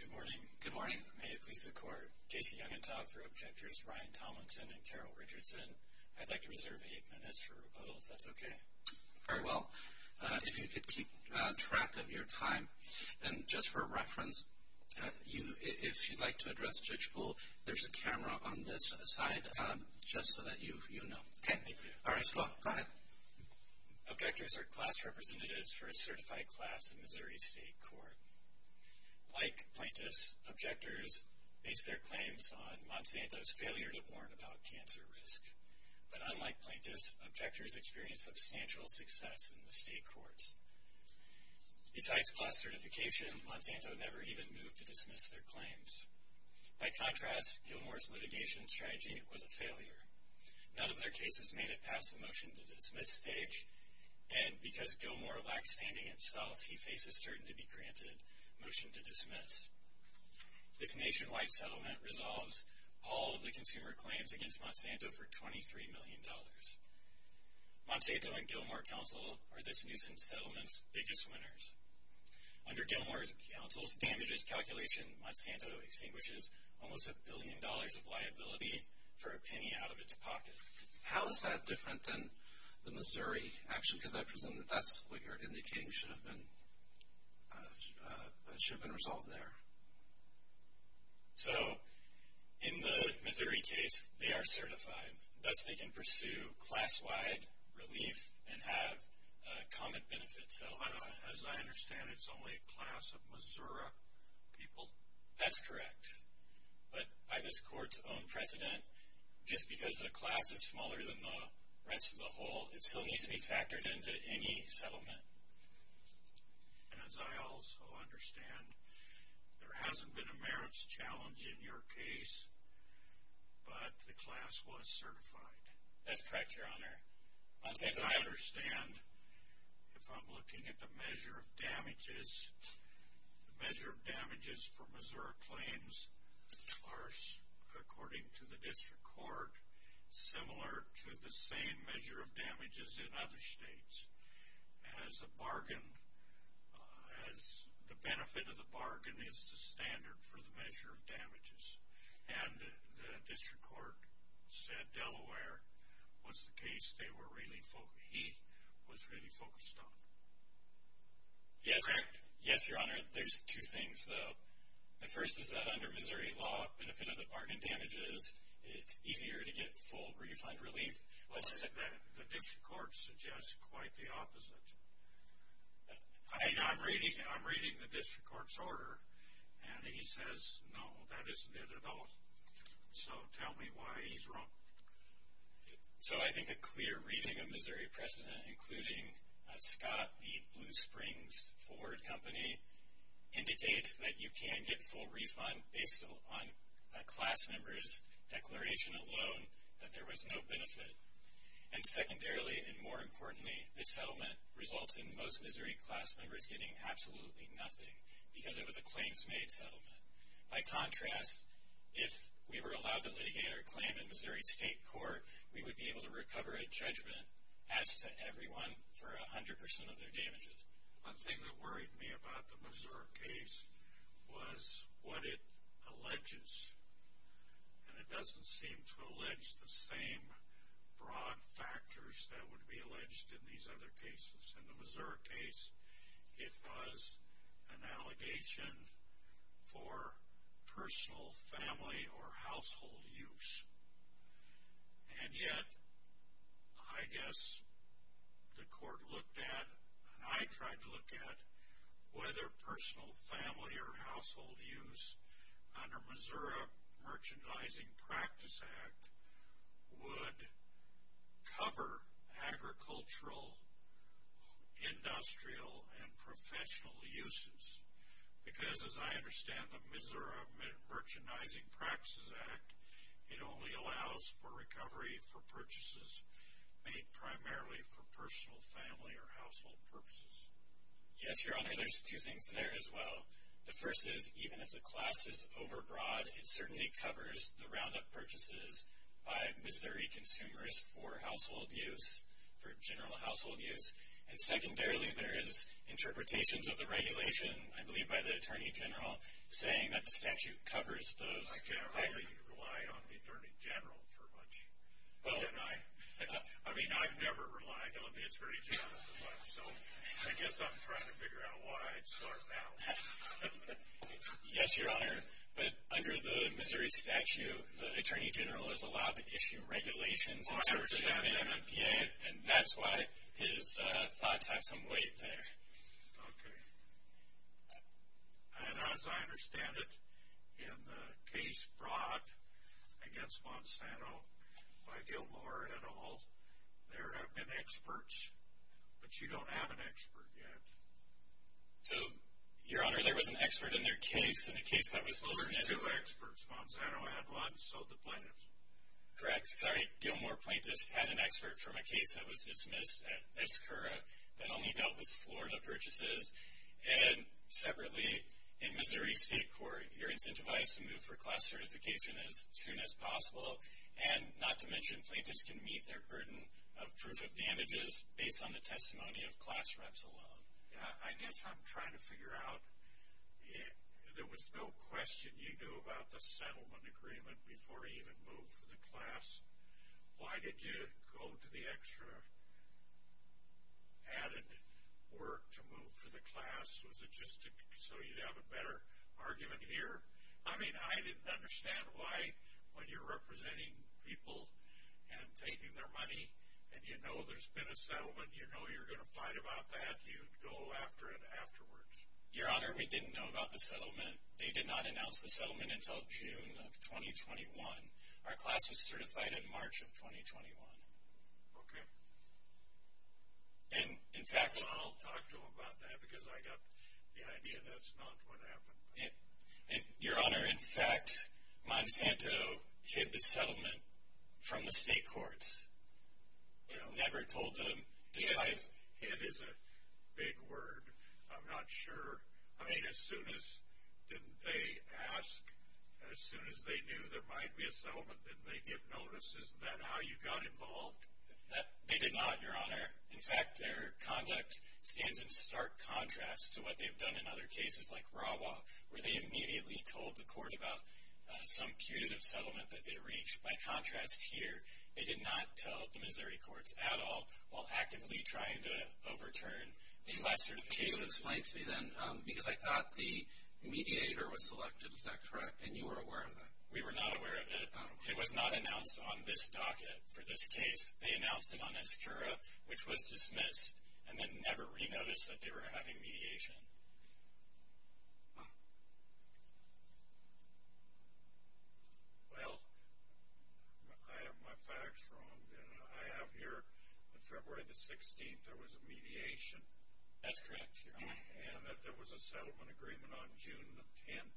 Good morning. Good morning. May it please the court. Casey Youngentag for objectors, Ryan Tomlinson and Carol Richardson. I'd like to reserve eight minutes for rebuttals, if that's okay. Very well. If you could keep track of your time, and just for reference, if you'd like to address Judge Bull, there's a camera on this side, just so that you know. Okay, thank you. All right, Scott, go ahead. Objectors are class representatives for a certified class in Missouri State Court. Like plaintiffs, objectors base their claims on Monsanto's failure to warn about cancer risk. But unlike plaintiffs, objectors experienced substantial success in the state courts. Besides class certification, Monsanto never even moved to dismiss their claims. By contrast, Gilmore's litigation strategy was a failure. None of their cases made it past the motion to dismiss stage, and because Gilmore lacked standing himself, he faces certain to be granted motion to dismiss. This nationwide settlement resolves all of the consumer claims against Monsanto for $23 million. Monsanto and Gilmore Council are this nuisance settlement's biggest winners. Under Gilmore's counsel's damages calculation, Monsanto extinguishes almost a billion dollars of liability for a penny out of its pocket. How is that different than the Missouri? Actually, because I presume that that's what you're indicating should have been resolved there. So, in the Missouri case, they are certified. Thus, they can pursue class-wide relief and have common benefits settlement. As I understand, it's only a class of Missouri people. That's correct. But by this court's precedent, just because the class is smaller than the rest of the whole, it still needs to be factored into any settlement. And as I also understand, there hasn't been a merits challenge in your case, but the class was certified. That's correct, Your Honor. Monsanto... I understand if I'm looking at the measure of damages, the measure of damages for Missouri claims are, according to the district court, similar to the same measure of damages in other states as a bargain, as the benefit of the bargain is the standard for the measure of damages. And the district court said Delaware was the case they were really focused... he was really focused on. Correct? Yes, Your Honor. There's two things, though. The first is that under Missouri law, benefit of the bargain damages, it's easier to get full refund relief. Well, the district court suggests quite the opposite. I'm reading the district court's order, and he says, no, that isn't it at all. So, tell me why he's wrong. So, I think a clear reading of Missouri precedent, including Scott v. Blue Springs Forward Company, indicates that you can get full refund based on a class member's declaration alone that there was no benefit. And secondarily, and more importantly, this settlement results in most Missouri class members getting absolutely nothing because it was a claims-made settlement. By contrast, if we were allowed to litigate our claim in Missouri State Court, we would be able to recover a judgment as to everyone for a hundred percent of their damages. One thing that worried me about the Missouri case was what it alleges. And it doesn't seem to allege the same broad factors that would be alleged in these other cases. In the Missouri case, it was an allegation for personal family or household use. And yet, I guess the court looked at, and I tried to look at, whether personal family or household use under Missouri Merchandising Practice Act would cover agricultural, industrial, and professional uses. Because as I understand the Missouri Merchandising Practices Act, it only allows for recovery for purchases made primarily for personal, family, or household purposes. Yes, Your Honor, there's two things there as well. The first is, even if the class is overbroad, it certainly covers the roundup purchases by Missouri consumers for household use, for general household use. And secondarily, there is interpretations of the regulation, I believe by the Attorney General, saying that the statute covers those. I can't really rely on the Attorney General for much, can I? I mean, I've never relied on the Attorney General for much, so I guess I'm trying to figure out why I'd start now. Yes, Your Honor, but under the Missouri statute, the Attorney General is allowed to issue regulations in terms of the MMPA, and that's why his thoughts have some weight there. Okay. And as I understand it, in the case brought against Monsanto by Gilmore et al., there have been experts, but you don't have an expert yet. So, Your Honor, there was an expert in their case, in a case that was dismissed. Two experts, Monsanto had one, so did plaintiffs. Correct. Sorry, Gilmore plaintiffs had an expert from a case that was dismissed at ESCURA that only dealt with Florida purchases. And separately, in Missouri State Court, you're incentivized to move for class certification as soon as possible, and not to mention, plaintiffs can meet their burden of proof of damages based on the testimony of class reps alone. I guess I'm trying to figure out, there was no question you knew about the settlement agreement before you even moved for the class. Why did you go to the extra added work to move for the class? Was it just so you'd have a better argument here? I mean, I didn't understand why, when you're representing people and taking their money, and you know there's been a settlement, you know you're going to fight about that, you'd go after it afterwards. Your Honor, we didn't know about the settlement. They did not announce the settlement until June of 2021. Our class was certified in March of 2021. Okay. And in fact- Well, I'll talk to them about that, because I got the idea that's not what happened. Your Honor, in fact, Monsanto hid the settlement from the state courts, you know, never told them, despite- Hid is a big word. I'm not sure. I mean, as soon as, didn't they ask, as soon as they knew there might be a settlement, didn't they give notice? Isn't that how you got involved? They did not, Your Honor. In fact, their conduct stands in stark contrast to what they've done in other cases like Rawah, where they immediately told the court about some punitive settlement that they reached. By contrast here, they did not tell the Missouri courts at all while actively trying to overturn the class certification. So explain to me then, because I thought the mediator was selected. Is that correct? And you were aware of that? We were not aware of it. It was not announced on this docket for this case. They announced it on Escura, which was dismissed, and then never re-noticed that they were having mediation. Well, I have my facts wrong. I have here that February the 16th, there was a mediation. That's correct, Your Honor. And that there was a settlement agreement on June the 10th.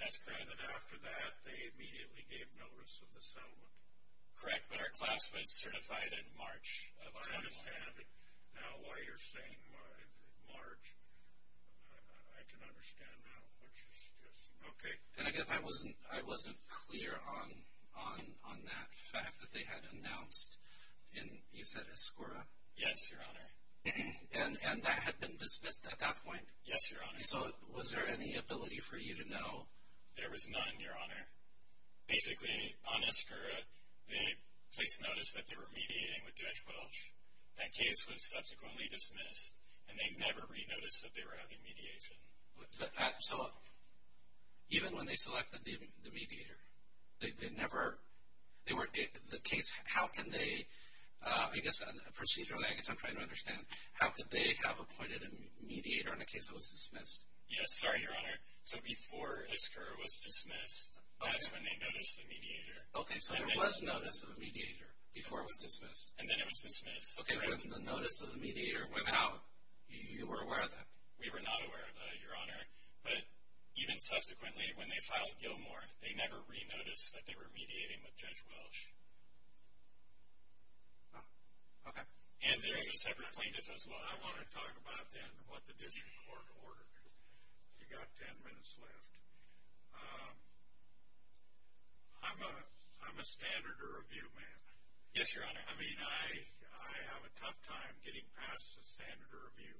That's correct. And that after that, they immediately gave notice of the settlement. Correct, but our class was certified in March of 2011. I understand now why you're saying March. I can understand now what you're suggesting. Okay. And I guess I wasn't clear on that fact that they had announced in, you said, Escura? Yes, Your Honor. And that had been dismissed at that point? Yes, Your Honor. So was there any ability for you to know? There was none, Your Honor. Basically, on Escura, the case noticed that they were mediating with Judge Welch. That case was subsequently dismissed, and they never re-noticed that they were having mediation. So even when they selected the mediator, they never, they were, the case, how can they, I guess, procedurally, I guess I'm trying to understand, how could they have appointed a mediator in a case that was dismissed? Yes, sorry, Your Honor. So before Escura was dismissed, that's when they noticed the mediator. Okay, so there was notice of a mediator before it was dismissed. And then it was dismissed. Okay, when the notice of the mediator went out, you were aware of that? We were not aware of that, Your Honor. But even subsequently, when they filed Gilmore, they never re-noticed that they were mediating with Judge Welch. Oh, okay. And there was a separate plaintiff as well. I want to talk about then what the district court ordered. You got 10 minutes left. I'm a standard review man. Yes, Your Honor. I mean, I have a tough time getting past the standard review.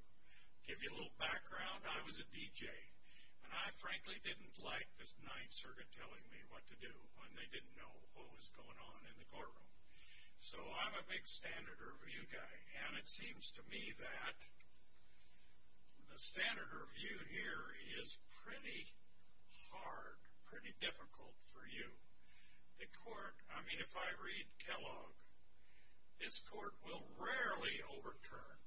Give you a little background, I was a DJ. And I frankly didn't like this Ninth Circuit telling me what to do when they didn't know what was going on in the courtroom. So I'm a big standard review guy. And it seems to me that the standard review here is pretty hard, pretty difficult for you. The court, I mean, if I read Kellogg, this court will rarely overturn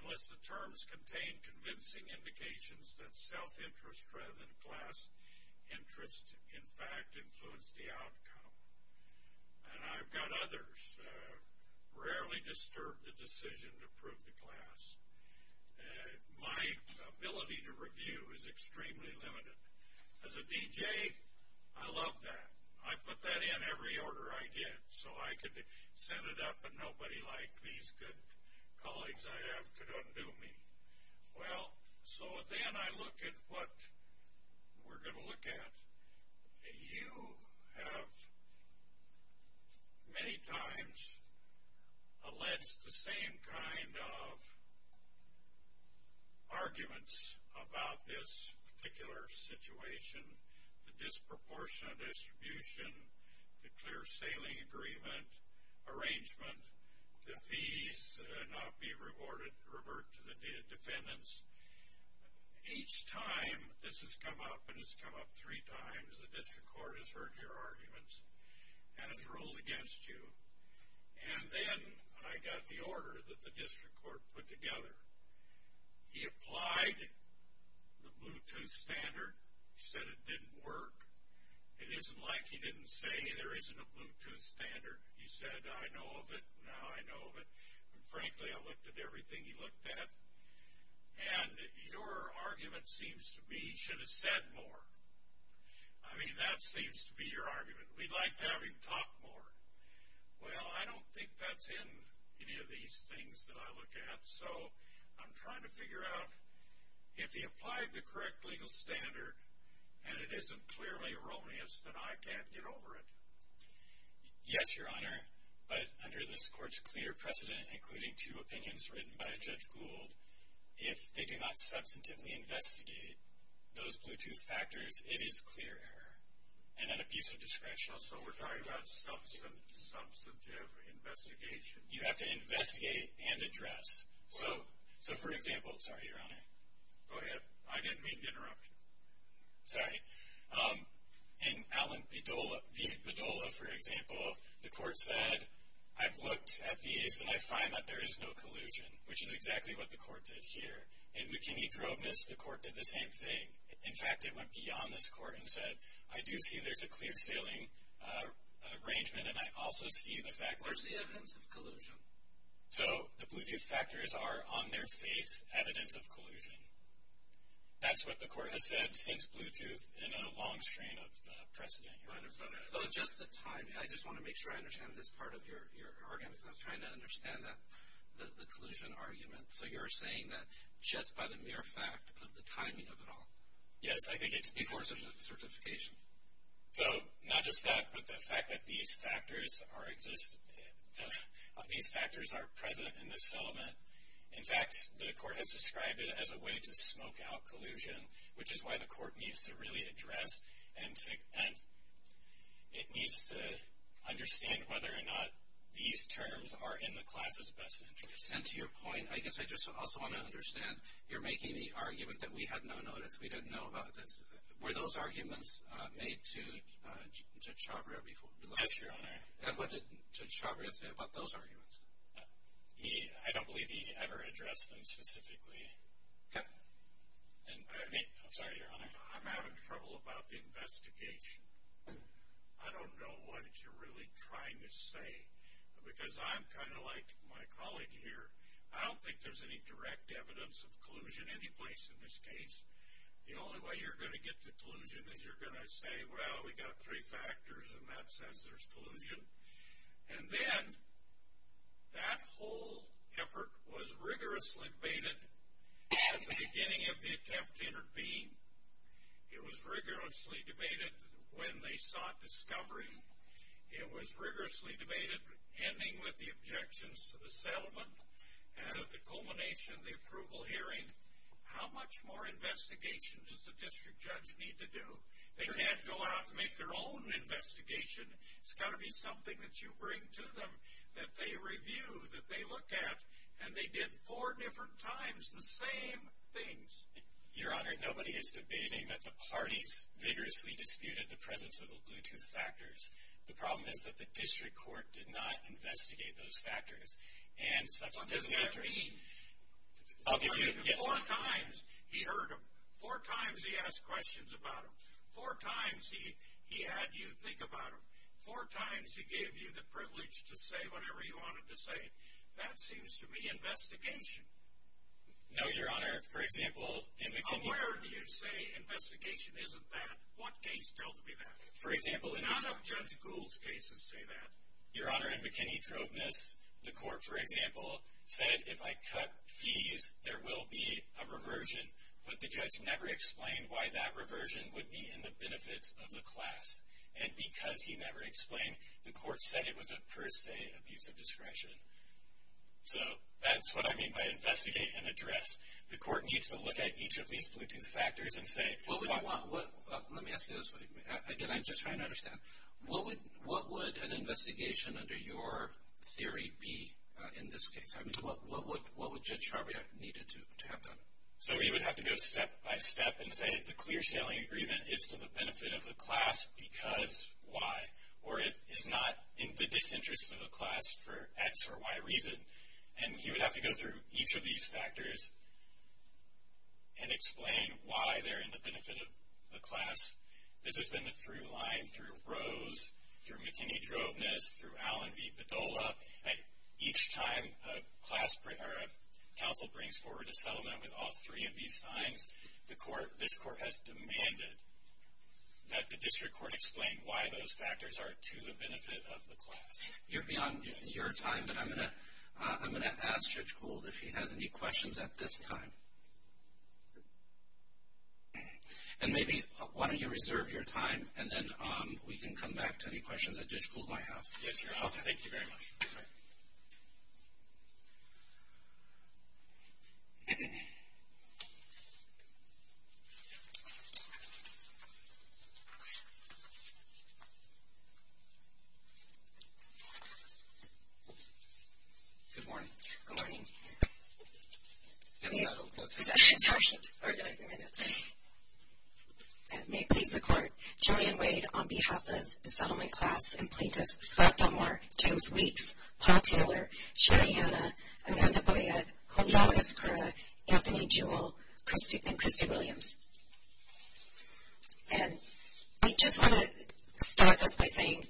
unless the terms contain convincing indications that self-interest rather than class interest, in fact, influence the outcome. And I've got others. Rarely disturb the decision to prove the class. My ability to review is extremely limited. As a DJ, I love that. I put that in every order I did so I could send it up and nobody like these good colleagues I have could undo me. Well, so then I look at what we're going to look at. You have many times alleged the same kind of arguments about this particular situation. The disproportionate distribution, the clear sailing agreement arrangement, the fees not be reverted to the defendants. Each time this has come up, and it's come up three times, the district court has heard your arguments and has ruled against you. And then I got the order that the district court put together. He applied the Bluetooth standard. He said it didn't work. It isn't like he didn't say there isn't a Bluetooth standard. He said, I know of it. Now I know of it. Frankly, I looked at everything he looked at. And your argument seems to be he should have said more. I mean, that seems to be your argument. We'd like to have him talk more. Well, I don't think that's in any of these things that I look at. So I'm trying to figure out if he applied the correct legal standard and it isn't clearly erroneous, then I can't get over it. Yes, Your Honor. But under this court's clear precedent, including two opinions written by Judge Gould, if they do not substantively investigate those Bluetooth factors, it is clear error and an abuse of discretion. So we're talking about substantive investigation. You have to investigate and address. So for example, sorry, Your Honor. Go ahead. I didn't mean to interrupt. Sorry. In Allen v. Padola, for example, the court said, I've looked at these and I find that there is no collusion, which is exactly what the court did here. In McKinney-Droveness, the court did the same thing. In fact, it went beyond this court and said, I do see there's a clear sailing arrangement. And I also see the fact that... Where's the evidence of collusion? So the Bluetooth factors are, on their face, evidence of collusion. That's what the court has said since Bluetooth in a long strain of precedent, Your Honor. Oh, just the timing. I just want to make sure I understand this part of your argument, because I'm trying to understand the collusion argument. So you're saying that just by the mere fact of the timing of it all? Yes, I think it's because of the certification. So not just that, but the fact that these factors are present in this settlement. In fact, the court has described it as a way to smoke out collusion, which is why the court needs to really address and... It needs to understand whether or not these terms are in the class's best interest. And to your point, I guess I just also want to understand, you're making the argument that we had no notice. We didn't know about this. Were those arguments made to Judge Chabria before? Yes, Your Honor. And what did Judge Chabria say about those arguments? I don't believe he ever addressed them specifically. Okay. I'm sorry, Your Honor. I'm having trouble about the investigation. I don't know what you're really trying to say. Because I'm kind of like my colleague here, I don't think there's any direct evidence of collusion anyplace in this case. The only way you're going to get to collusion is you're going to say, well, we got three factors and that says there's collusion. And then that whole effort was rigorously debated at the beginning of the attempt to intervene. It was rigorously debated when they sought discovery. It was rigorously debated ending with the objections to the settlement. And at the culmination of the approval hearing, how much more investigation does the district judge need to do? They can't go out and make their own investigation. It's got to be something that you bring to them, that they review, that they look at. And they did four different times the same things. Your Honor, nobody is debating that the parties vigorously disputed the presence of the Bluetooth factors. The problem is that the district court did not investigate those factors. And substantive factors... What does that mean? I'll give you a guess. Four times he heard him. Four times he asked questions about him. Four times he had you think about him. Four times he gave you the privilege to say whatever you wanted to say. That seems to me investigation. No, Your Honor. For example, in McKinney... On where do you say investigation isn't that? What case tells me that? For example... A lot of Judge Gould's cases say that. Your Honor, in McKinney-Drobeness, the court, for example, said if I cut fees, there will be a reversion. But the judge never explained why that reversion would be in the benefits of the class. And because he never explained, the court said it was a per se abuse of discretion. So that's what I mean by investigate and address. The court needs to look at each of these Bluetooth factors and say... What would you want? Let me ask you this way. Again, I'm just trying to understand. What would an investigation under your theory be in this case? I mean, what would Judge Charbiot need to have done? So he would have to go step by step and say the clear sailing agreement is to the benefit of the class because Y. Or it is not in the disinterest of the class for X or Y reason. And he would have to go through each of these factors and explain why they're in the benefit of the class. This has been the through line through Rose, through McKinney-Droveness, through Allen v. Bedolla. At each time a class council brings forward a settlement with all three of these signs, this court has demanded that the district court explain why those factors are to the benefit of the class. You're beyond your time, but I'm going to ask Judge Gould if he has any questions at this time. And maybe why don't you reserve your time and then we can come back to any questions that Judge Gould might have. Yes, Your Honor. Thank you very much. Good morning. Good morning. I'm going to go through the session instructions, organize them in a minute. And may it please the court, Julian Wade on behalf of the settlement class and plaintiffs, Scott Dunmore, James Weeks, Paul Taylor, Sherry Hanna, Amanda Boyad, Juliana Escura, Anthony Jewell, and Christy Williams. And I just want to start this by saying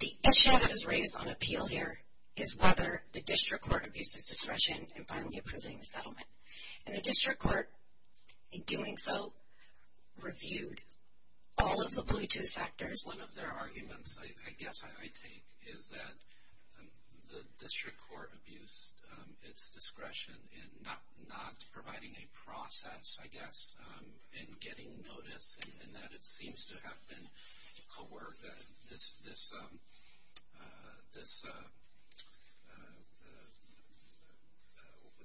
the issue that is raised on appeal here is whether the district court abused its discretion in finally approving the settlement. And the district court, in doing so, reviewed all of the Bluetooth factors. One of their arguments, I guess I take, is that the district court abused its discretion in not providing a process, I guess, in getting notice and that it seems to have been coerced. This,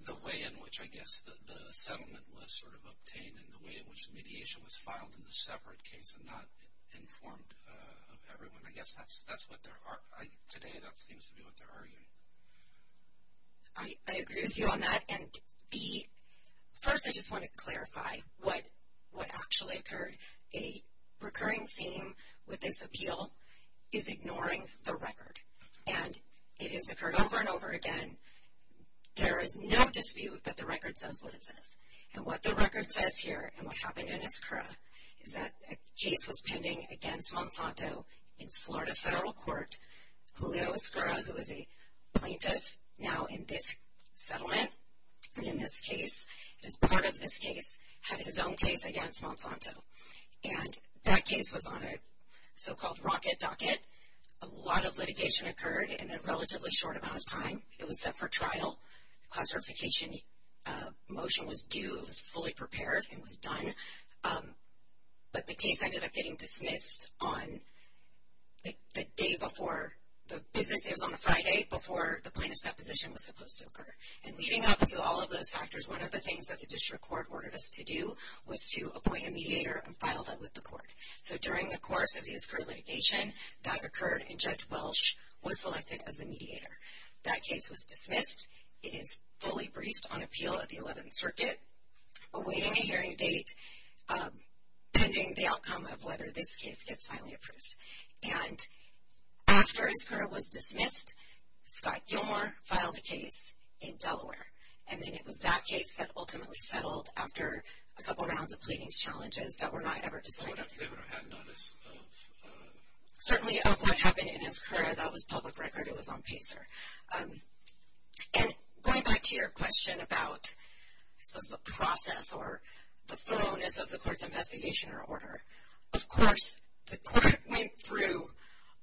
the way in which, I guess, the settlement was sort of obtained and the way in which mediation was filed in the separate case and not informed of everyone. I guess that's what they're, today that seems to be what they're arguing. I agree with you on that. And the, first I just want to clarify what actually occurred. A recurring theme with this appeal is ignoring the record. And it has occurred over and over again. There is no dispute that the record says what it says. And what the record says here and what happened in Escura is that a case was pending against Monsanto in Florida Federal Court. Julio Escura, who is a plaintiff now in this settlement and in this case, as part of this case, had his own case against Monsanto. And that case was on a so-called rocket docket. A lot of litigation occurred in a relatively short amount of time. It was set for trial. Classification motion was due. It was fully prepared and was done. But the case ended up getting dismissed on the day before the business, it was on a Friday before the plaintiff's deposition was supposed to occur. And leading up to all of those factors, one of the things that the district court ordered us to do was to appoint a mediator and file that with the court. So during the course of the Escura litigation, that occurred and Judge Welsh was selected as the mediator. That case was dismissed. It is fully briefed on appeal at the 11th Circuit awaiting a hearing date pending the outcome of whether this case gets finally approved. And after Escura was dismissed, Scott Gilmore filed a case in Delaware. And then it was that case that ultimately settled after a couple rounds of pleadings challenges that were not ever decided. They would have had notice of? Certainly of what happened in Escura. That was public record. It was on PACER. And going back to your question about, I suppose, the process or the thoroughness of the court's investigation or order, of course, the court went through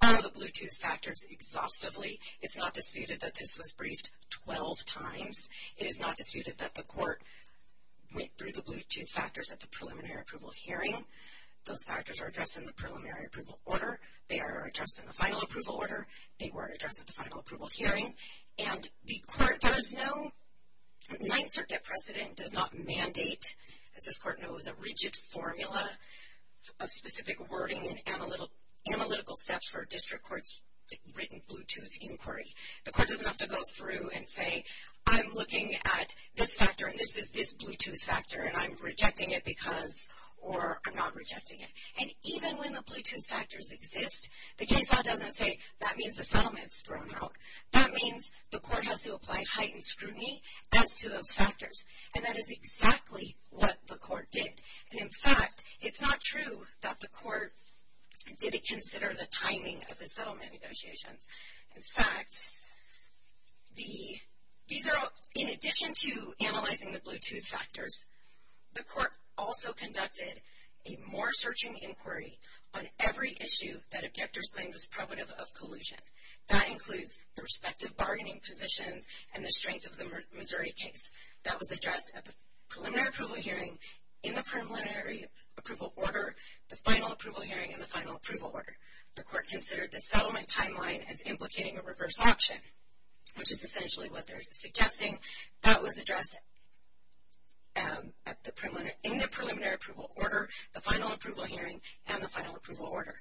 all of the Bluetooth factors exhaustively. It's not disputed that this was briefed 12 times. It is not disputed that the court went through the Bluetooth factors at the preliminary approval hearing. Those factors are addressed in the preliminary approval order. They are addressed in the final approval order. They were addressed at the final approval hearing. And the court does know 9th Circuit precedent does not mandate, as this court knows, a rigid formula of specific wording and analytical steps for a district court's written Bluetooth inquiry. The court doesn't have to go through and say, I'm looking at this factor, and this is this Bluetooth factor, and I'm rejecting it because, or I'm not rejecting it. And even when the Bluetooth factors exist, the case law doesn't say, that means the settlement's thrown out. That means the court has to apply heightened scrutiny as to those factors. And that is exactly what the court did. And in fact, it's not true that the court didn't consider the timing of the settlement negotiations. In fact, these are, in addition to analyzing the Bluetooth factors, the court also conducted a more searching inquiry on every issue that objectors claimed was probative of collusion. That includes the respective bargaining positions and the strength of the Missouri case. That was addressed at the preliminary approval hearing, in the preliminary approval order, the final approval hearing, and the final approval order. The court considered the settlement timeline as implicating a reverse option, which is essentially what they're suggesting, that was addressed in the preliminary approval order, the final approval hearing, and the final approval order.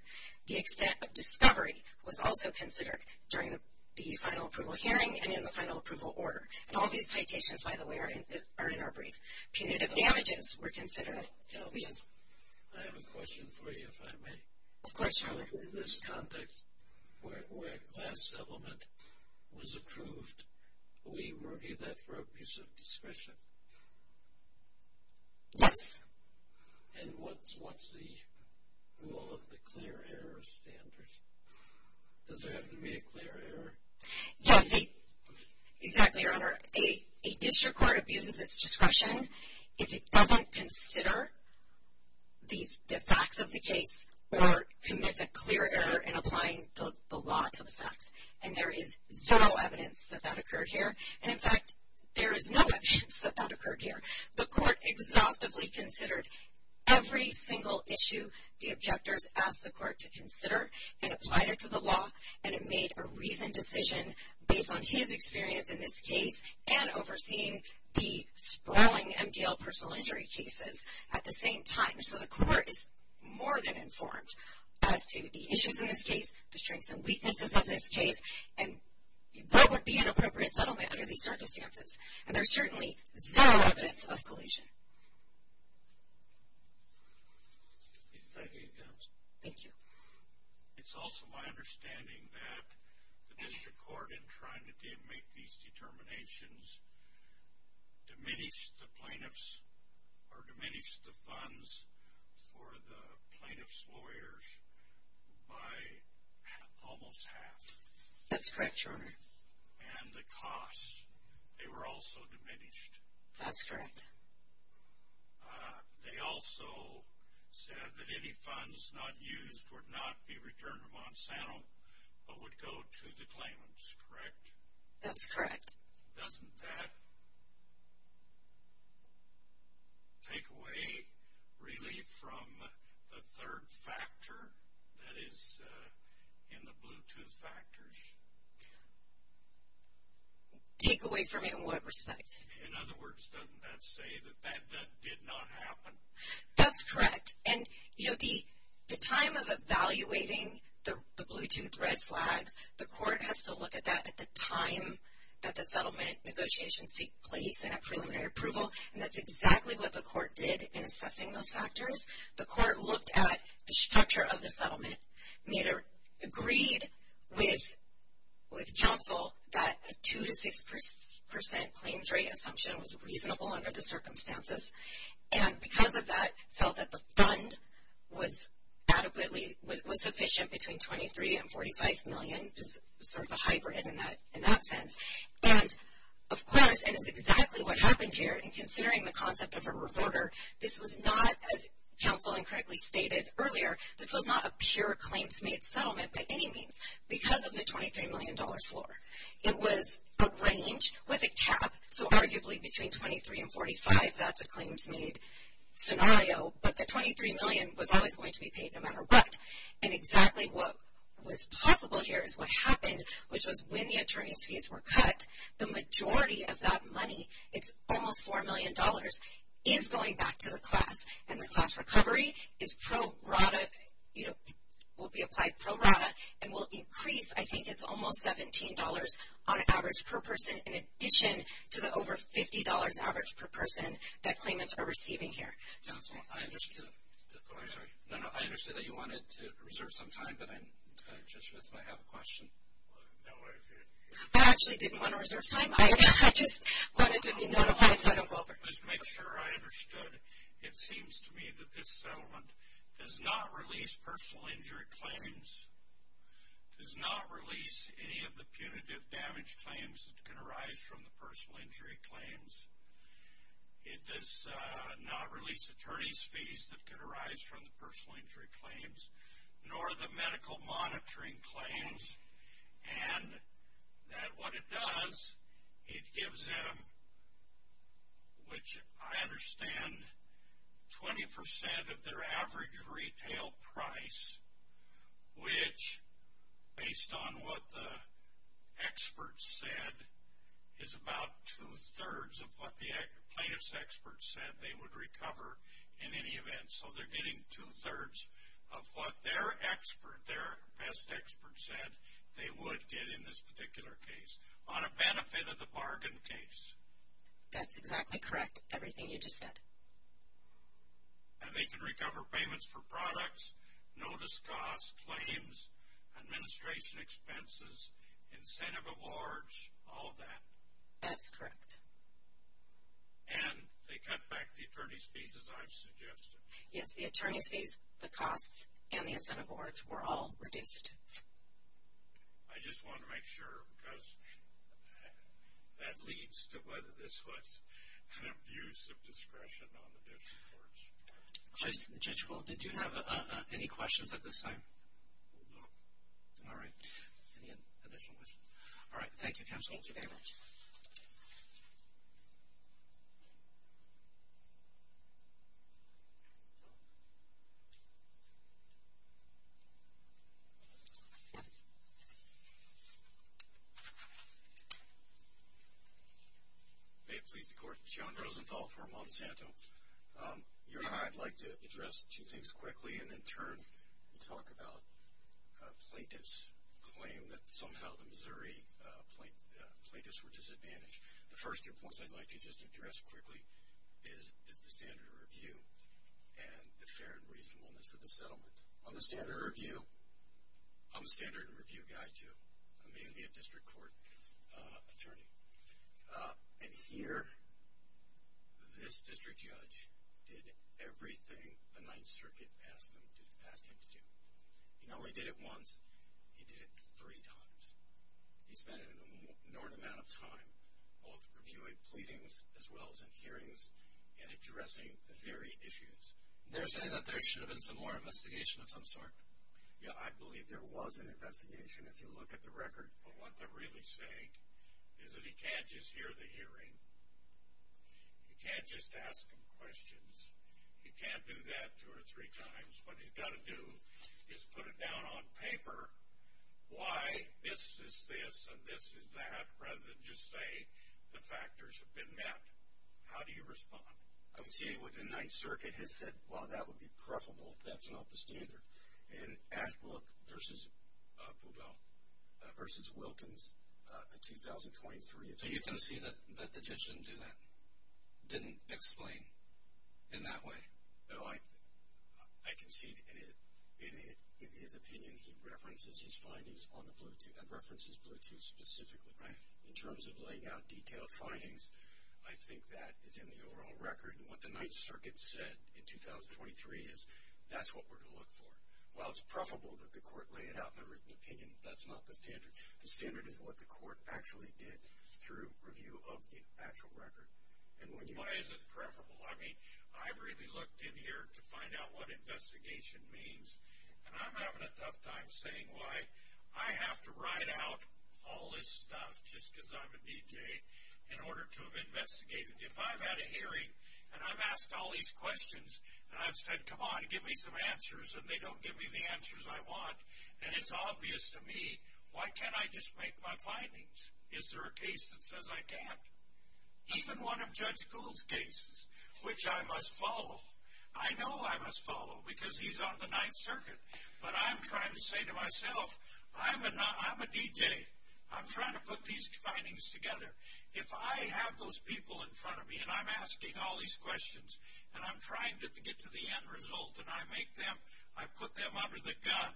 The extent of discovery was also considered during the final approval hearing and in the final approval order. And all these citations, by the way, are in our brief. Punitive damages were considered. I have a question for you, if I may. Of course, Your Honor. In this context, where class settlement was approved, we review that for abuse of discretion? Yes. And what's the rule of the clear error standard? Does there have to be a clear error? Yes, exactly, Your Honor. A district court abuses its discretion if it doesn't consider the facts of the case or commits a clear error in applying the law to the facts. And there is zero evidence that that occurred here. And in fact, there is no evidence that that occurred here. The court exhaustively considered every single issue the objectors asked the court to consider and applied it to the law. And it made a reasoned decision based on his experience in this case and overseeing the sprawling MDL personal injury cases at the same time. So the court is more than informed as to the issues in this case, the strengths and weaknesses of this case, and what would be an appropriate settlement under these circumstances. And there's certainly zero evidence of collusion. Thank you. It's also my understanding that the district court, in trying to make these determinations, diminished the plaintiffs or diminished the funds for the plaintiff's lawyers by almost half. That's correct, Your Honor. And the costs, they were also diminished. That's correct. And they also said that any funds not used would not be returned to Monsanto but would go to the claimants, correct? That's correct. Doesn't that take away relief from the third factor that is in the Bluetooth factors? Take away from it in what respect? In other words, doesn't that say that that did not happen? That's correct. And, you know, the time of evaluating the Bluetooth red flags, the court has to look at that at the time that the settlement negotiations take place and at preliminary approval. And that's exactly what the court did in assessing those factors. The court looked at the structure of the settlement, made a, agreed with counsel that a 2 to 6 percent claims rate assumption was reasonable under the circumstances, and because of that, felt that the fund was adequately, was sufficient between 23 and 45 million, just sort of a hybrid in that sense. And, of course, and it's exactly what happened here in considering the concept of a revorter, this was not, as counsel incorrectly stated earlier, this was not a pure claims made settlement by any means because of the 23 million dollar floor. It was arranged with a cap, so arguably between 23 and 45, that's a claims made scenario, but the 23 million was always going to be paid no matter what. And exactly what was possible here is what happened, which was when the attorney's fees were cut, the majority of that money, it's almost 4 million dollars, is going back to the class. And the class recovery is pro rata, you know, will be applied pro rata and will increase, I think it's almost 17 dollars on average per person in addition to the over 50 dollars average per person that claimants are receiving here. I understand that you wanted to reserve some time, but Judge Smith might have a question. I actually didn't want to reserve time, I just wanted to be notified so I don't go over. Just to make sure I understood, it seems to me that this settlement does not release personal injury claims, does not release any of the punitive damage claims that can arise from personal injury claims, it does not release attorney's fees that can arise from the personal injury claims, nor the medical monitoring claims, and that what it does, it gives them, which I understand 20 percent of their average retail price, which based on what the plaintiff's experts said, they would recover in any event. So they're getting two-thirds of what their expert, their best expert said, they would get in this particular case, on a benefit of the bargain case. That's exactly correct, everything you just said. And they can recover payments for products, notice costs, claims, administration expenses, incentive awards, all that. That's correct. And they cut back the attorney's fees as I've suggested. Yes, the attorney's fees, the costs, and the incentive awards were all reduced. I just want to make sure because that leads to whether this was an abuse of discretion on the district court's part. Judge Gould, did you have any questions at this time? No. All right. Any additional questions? All right. Thank you, counsel. Thank you very much. May it please the court. John Rosenthal for Monsanto. You and I would like to address two things quickly and in turn talk about a plaintiff's claim that somehow the Missouri plaintiffs were disadvantaged. The first two points I'd like to just address quickly is the standard of review and the fair and reasonableness of the settlement. On the standard of review, I'm a standard of review guy too. I may be a district court attorney. And here, this district judge did everything the Ninth Circuit asked him to do. He not only did it once, he did it three times. He spent an inordinate amount of time both reviewing pleadings as well as in hearings and addressing the very issues. They're saying that there should have been some more investigation of some sort? Yeah, I believe there was an investigation if you look at the record. But what they're really saying is that he can't just hear the hearing. He can't just ask him questions. He can't do that two or three times. What he's got to do is put it down on paper why this is this and this is that rather than just say the factors have been met. How do you respond? I would say what the Ninth Circuit has said, well, that would be preferable. That's not the standard. And Ashbrook versus Pueblo versus Wilkins in 2023. So you concede that the judge didn't do that? Didn't explain in that way? No, I concede in his opinion he references his findings on the Bluetooth. That references Bluetooth specifically. Right. In terms of laying out detailed findings, I think that is in the overall record. And what the Ninth Circuit said in 2023 is that's what we're going to look for. While it's preferable that the court lay it out in a written opinion, that's not the standard. The standard is what the court actually did through review of the actual record. And why is it preferable? I mean, I've really looked in here to find out what investigation means. And I'm having a tough time saying why I have to write out all this stuff just because I'm a DJ in order to have investigated. If I've had a hearing and I've asked all these questions and I've said, come on, give me some answers and they don't give me the answers I want. And it's obvious to me, why can't I just make my findings? Is there a case that says I can't? Even one of Judge Gould's cases, which I must follow. I know I must follow because he's on the Ninth Circuit. But I'm trying to say to myself, I'm a DJ. I'm trying to put these findings together. If I have those people in front of me and I'm asking all these questions and I'm trying to get to the end result and I make them, I put them under the gun.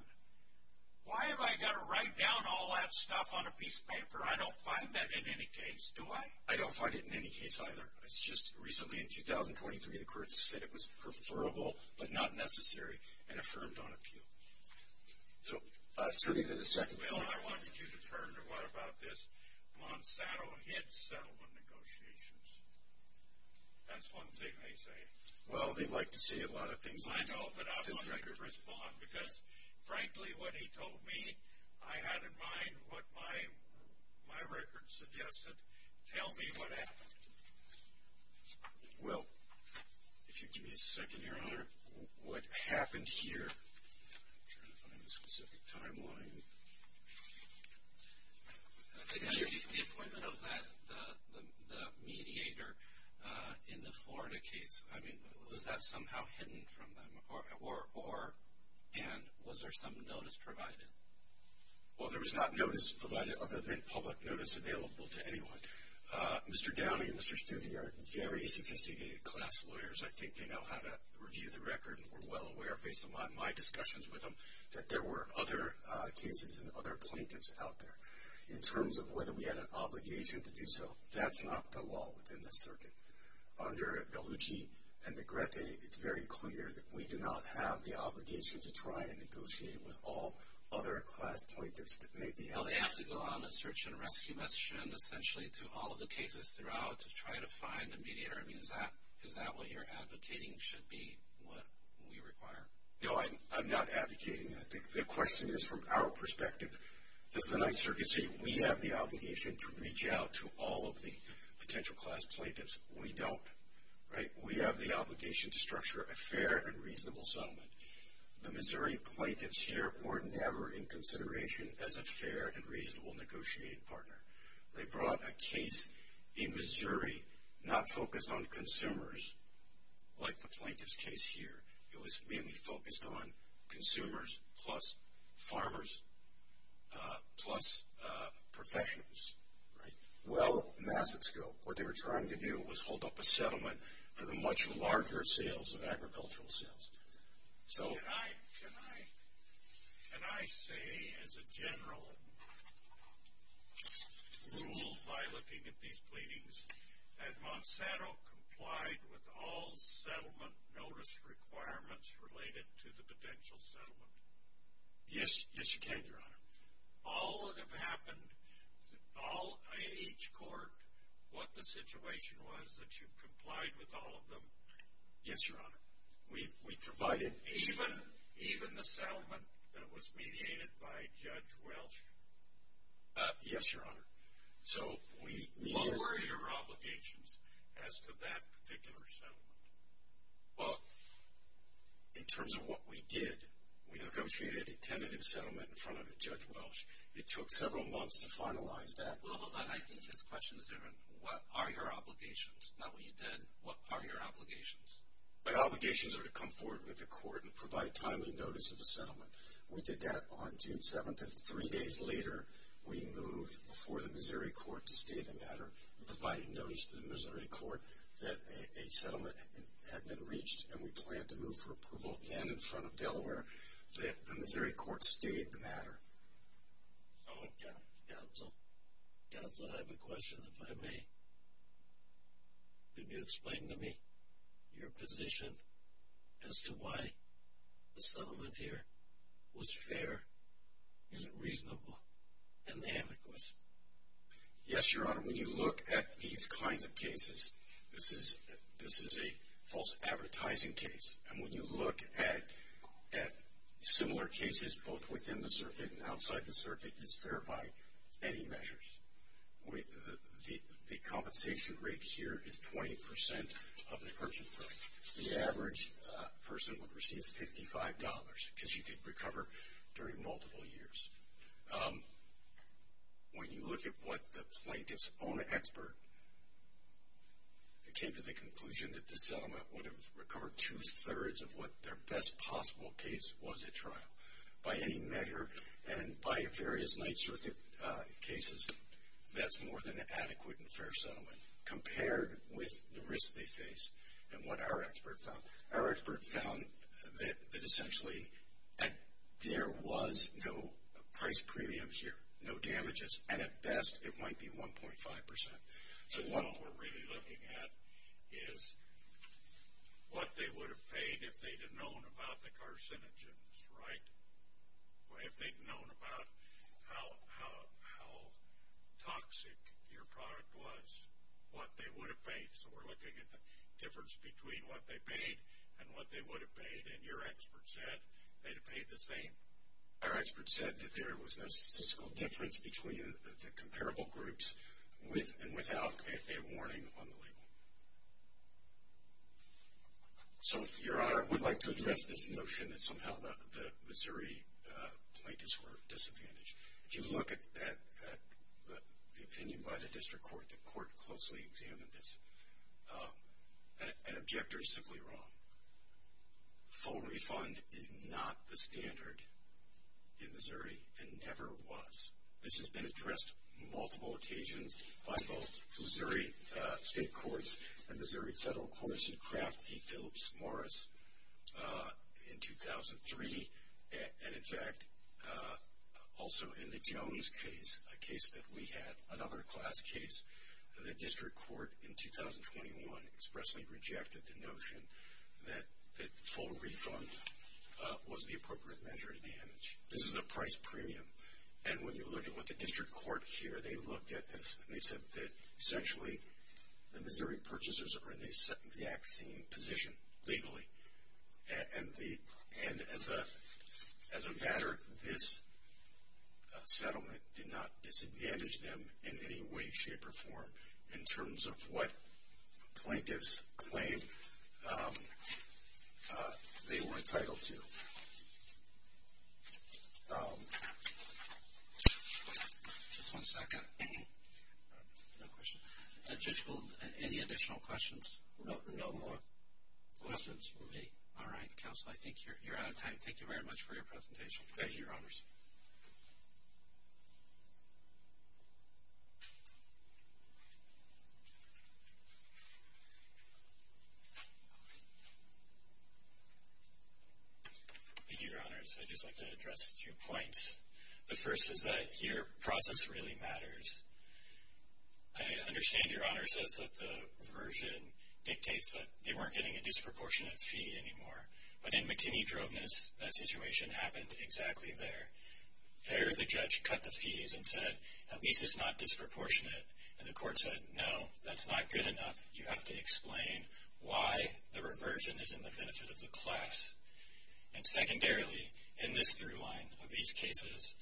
Why have I got to write down all that stuff on a piece of paper? I don't find that in any case, do I? I don't find it in any case either. It's just recently in 2023, the court said it was preferable, but not necessary and affirmed on appeal. So, turning to the second bill. I want you to turn to what about this Monsanto HID settlement negotiations. That's one thing they say. Well, they like to see a lot of things on this record. I know, but I wanted to respond because frankly what he told me, I had in mind what my record suggested. Tell me what happened. Well, if you give me a second here, what happened here? I'm trying to find a specific timeline. The appointment of the mediator in the Florida case. I mean, was that somehow hidden from them? And was there some notice provided? Well, there was not notice provided other than public notice available to anyone. Mr. Downey and Mr. Stuthi are very sophisticated class lawyers. I think they know how to review the record and were well aware based on my discussions with them that there were other cases and other plaintiffs out there. In terms of whether we had an obligation to do so, that's not the law within the circuit. Under Bellucci and Negrete, it's very clear that we do not have the obligation to try and negotiate with all other class plaintiffs that may be out there. So, they have to go on a search and rescue mission essentially through all of the cases throughout to try to find a mediator. I mean, is that what you're advocating should be what we require? No, I'm not advocating that. The question is from our perspective. Does the Ninth Circuit say we have the obligation to reach out to all of the potential class plaintiffs? We don't, right? We have the obligation to structure a fair and reasonable settlement. The Missouri plaintiffs here were never in consideration as a fair and reasonable negotiating partner. They brought a case in Missouri not focused on consumers like the plaintiff's case here. It was mainly focused on consumers plus farmers plus professionals, right? Well, massive scope. What they were trying to do was hold up a settlement for the much larger sales of agricultural sales. So, can I say as a general rule by looking at these pleadings that Monsanto complied with all settlement notice requirements related to the potential settlement? Yes, you can, Your Honor. All that have happened, in each court, what the situation was that you've complied with all of them? Yes, Your Honor. We provided even the settlement that was mediated by Judge Welsh? Yes, Your Honor. So, we... What were your obligations as to that particular settlement? Well, in terms of what we did, we negotiated a tentative settlement in front of Judge Welsh. It took several months to finalize that. Well, hold on. I think his question is different. What are your obligations? Not what you did. What are your obligations? My obligations are to come forward with the court and provide timely notice of the settlement. We did that on June 7th. Three days later, we moved before the Missouri court to state the matter, providing notice to the Missouri court that a settlement had been reached, and we planned to move for approval again in front of Delaware, that the Missouri court stated the matter. So, Counsel, I have a question, if I may. Could you explain to me your position as to why the settlement here was fair? Is it reasonable and adequate? Yes, Your Honor. When you look at these kinds of cases, this is a false advertising case, and when you look at similar cases, both within the circuit and outside the circuit, it's fair by any measures. The compensation rate here is 20% of the purchase price. The average person would receive $55, because you could recover during multiple years. When you look at what the plaintiff's own expert, it came to the conclusion that the settlement would have recovered two-thirds of what their best possible case was at trial. By any measure, and by various Ninth Circuit cases, that's more than an adequate and fair settlement. Compared with the risk they face and what our expert found, our expert found that essentially that there was no price premiums here, no damages, and at best, it might be 1.5%. So, what we're really looking at is what they would have paid if they'd have known about the carcinogens, right? If they'd known about how toxic your product was. What they would have paid. So, we're looking at the difference between what they paid and what they would have paid, and your expert said they'd have paid the same. Our expert said that there was no statistical difference between the comparable groups with and without a warning on the label. So, Your Honor, I would like to address this notion that somehow the Missouri plaintiff's were disadvantaged. If you look at the opinion by the district court, the court closely examined this, an objector is simply wrong. Full refund is not the standard in Missouri, and never was. This has been addressed multiple occasions by both Missouri state courts and Missouri federal courts. Phillips Morris in 2003, and in fact, also in the Jones case, a case that we had, another class case, the district court in 2021 expressly rejected the notion that full refund was the appropriate measure to damage. This is a price premium, and when you look at what the district court here, they looked at this and they said that essentially, the Missouri purchasers are in the exact same position, legally, and as a matter, this settlement did not disadvantage them in any way, shape, or form in terms of what plaintiffs claimed they were entitled to. Just one second. No question. Judge Gould, any additional questions? No more questions for me. All right, counsel. I think you're out of time. Thank you very much for your presentation. Thank you, your honors. Thank you, your honors. I'd just like to address two points. The first is that your process really matters. I understand your honor says that the reversion dictates that they weren't getting a disproportionate fee anymore, but in McKinney-Droveness, that situation happened exactly there. There, the judge cut the fees and said, at least it's not disproportionate. And the court said, no, that's not good enough. You have to explain why the reversion is in the benefit of the class. And secondarily, in this through line of these cases,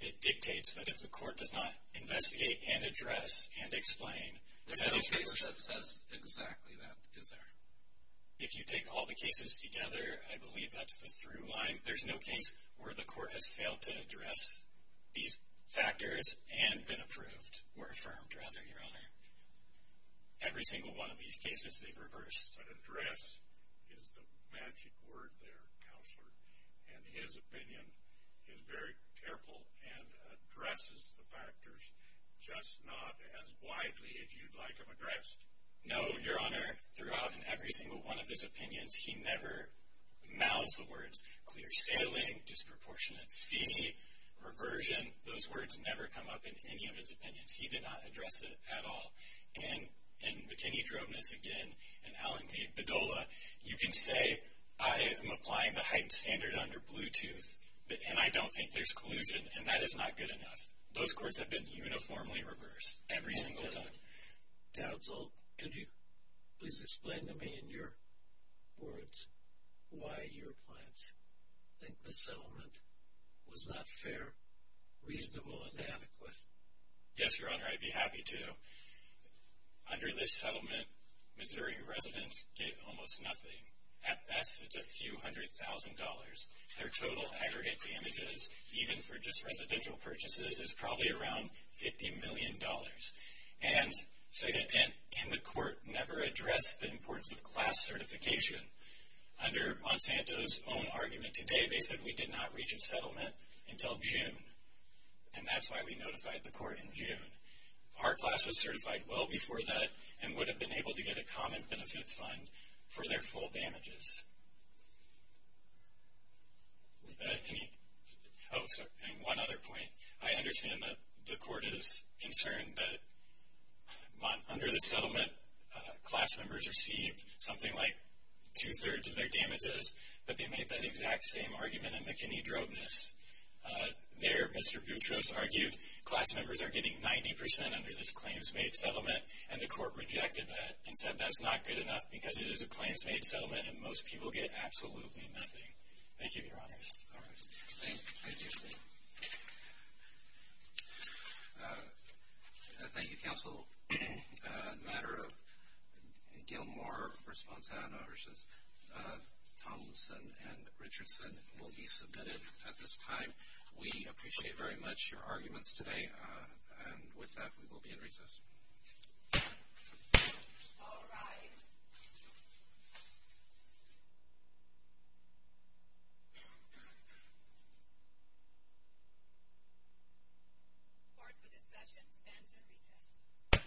it dictates that if the court does not investigate and address and explain- There's no case that says exactly that, is there? If you take all the cases together, I believe that's the through line. There's no case where the court has failed to address these factors and been approved, or affirmed, rather, your honor. Every single one of these cases, they've reversed. But address is the magic word there, counselor. And his opinion is very careful and addresses the factors, just not as widely as you'd like them addressed. No, your honor. Throughout, in every single one of his opinions, he never mouths the words clear sailing, disproportionate fee, reversion. Those words never come up in any of his opinions. He did not address it at all. And in McKinney-Droveness, again, and Allen v. Badola, you can say, I am applying the heightened standard under Bluetooth, and I don't think there's collusion, and that is not good enough. Those courts have been uniformly reversed every single time. Dowd's Old, could you please explain to me, in your words, why your clients think the settlement was not fair, reasonable, and adequate? Yes, your honor, I'd be happy to. Under this settlement, Missouri residents get almost nothing. At best, it's a few hundred thousand dollars. Their total aggregate damages, even for just residential purchases, is probably around $50 million. And, second, and the court never addressed the importance of class certification. Under Monsanto's own argument today, they said we did not reach a settlement until June. And that's why we notified the court in June. Our class was certified well before that, and would have been able to get a common benefit fund for their full damages. Oh, sorry, and one other point. I understand that the court is concerned that under this settlement, class members receive something like two-thirds of their damages, but they made that exact same argument in McKinney-Drobeness. There, Mr. Boutros argued, class members are getting 90% under this claims-made settlement, and the court rejected that and said that's not good enough because it is a claims-made settlement, and most people get absolutely nothing. Thank you, Your Honors. All right. Thank you. Thank you, Counsel. A matter of Gilmour v. Fontana v. Tomlinson and Richardson will be submitted at this time. We appreciate very much your arguments today, and with that, we will be in recess. All rise. Court for this session stands in recess.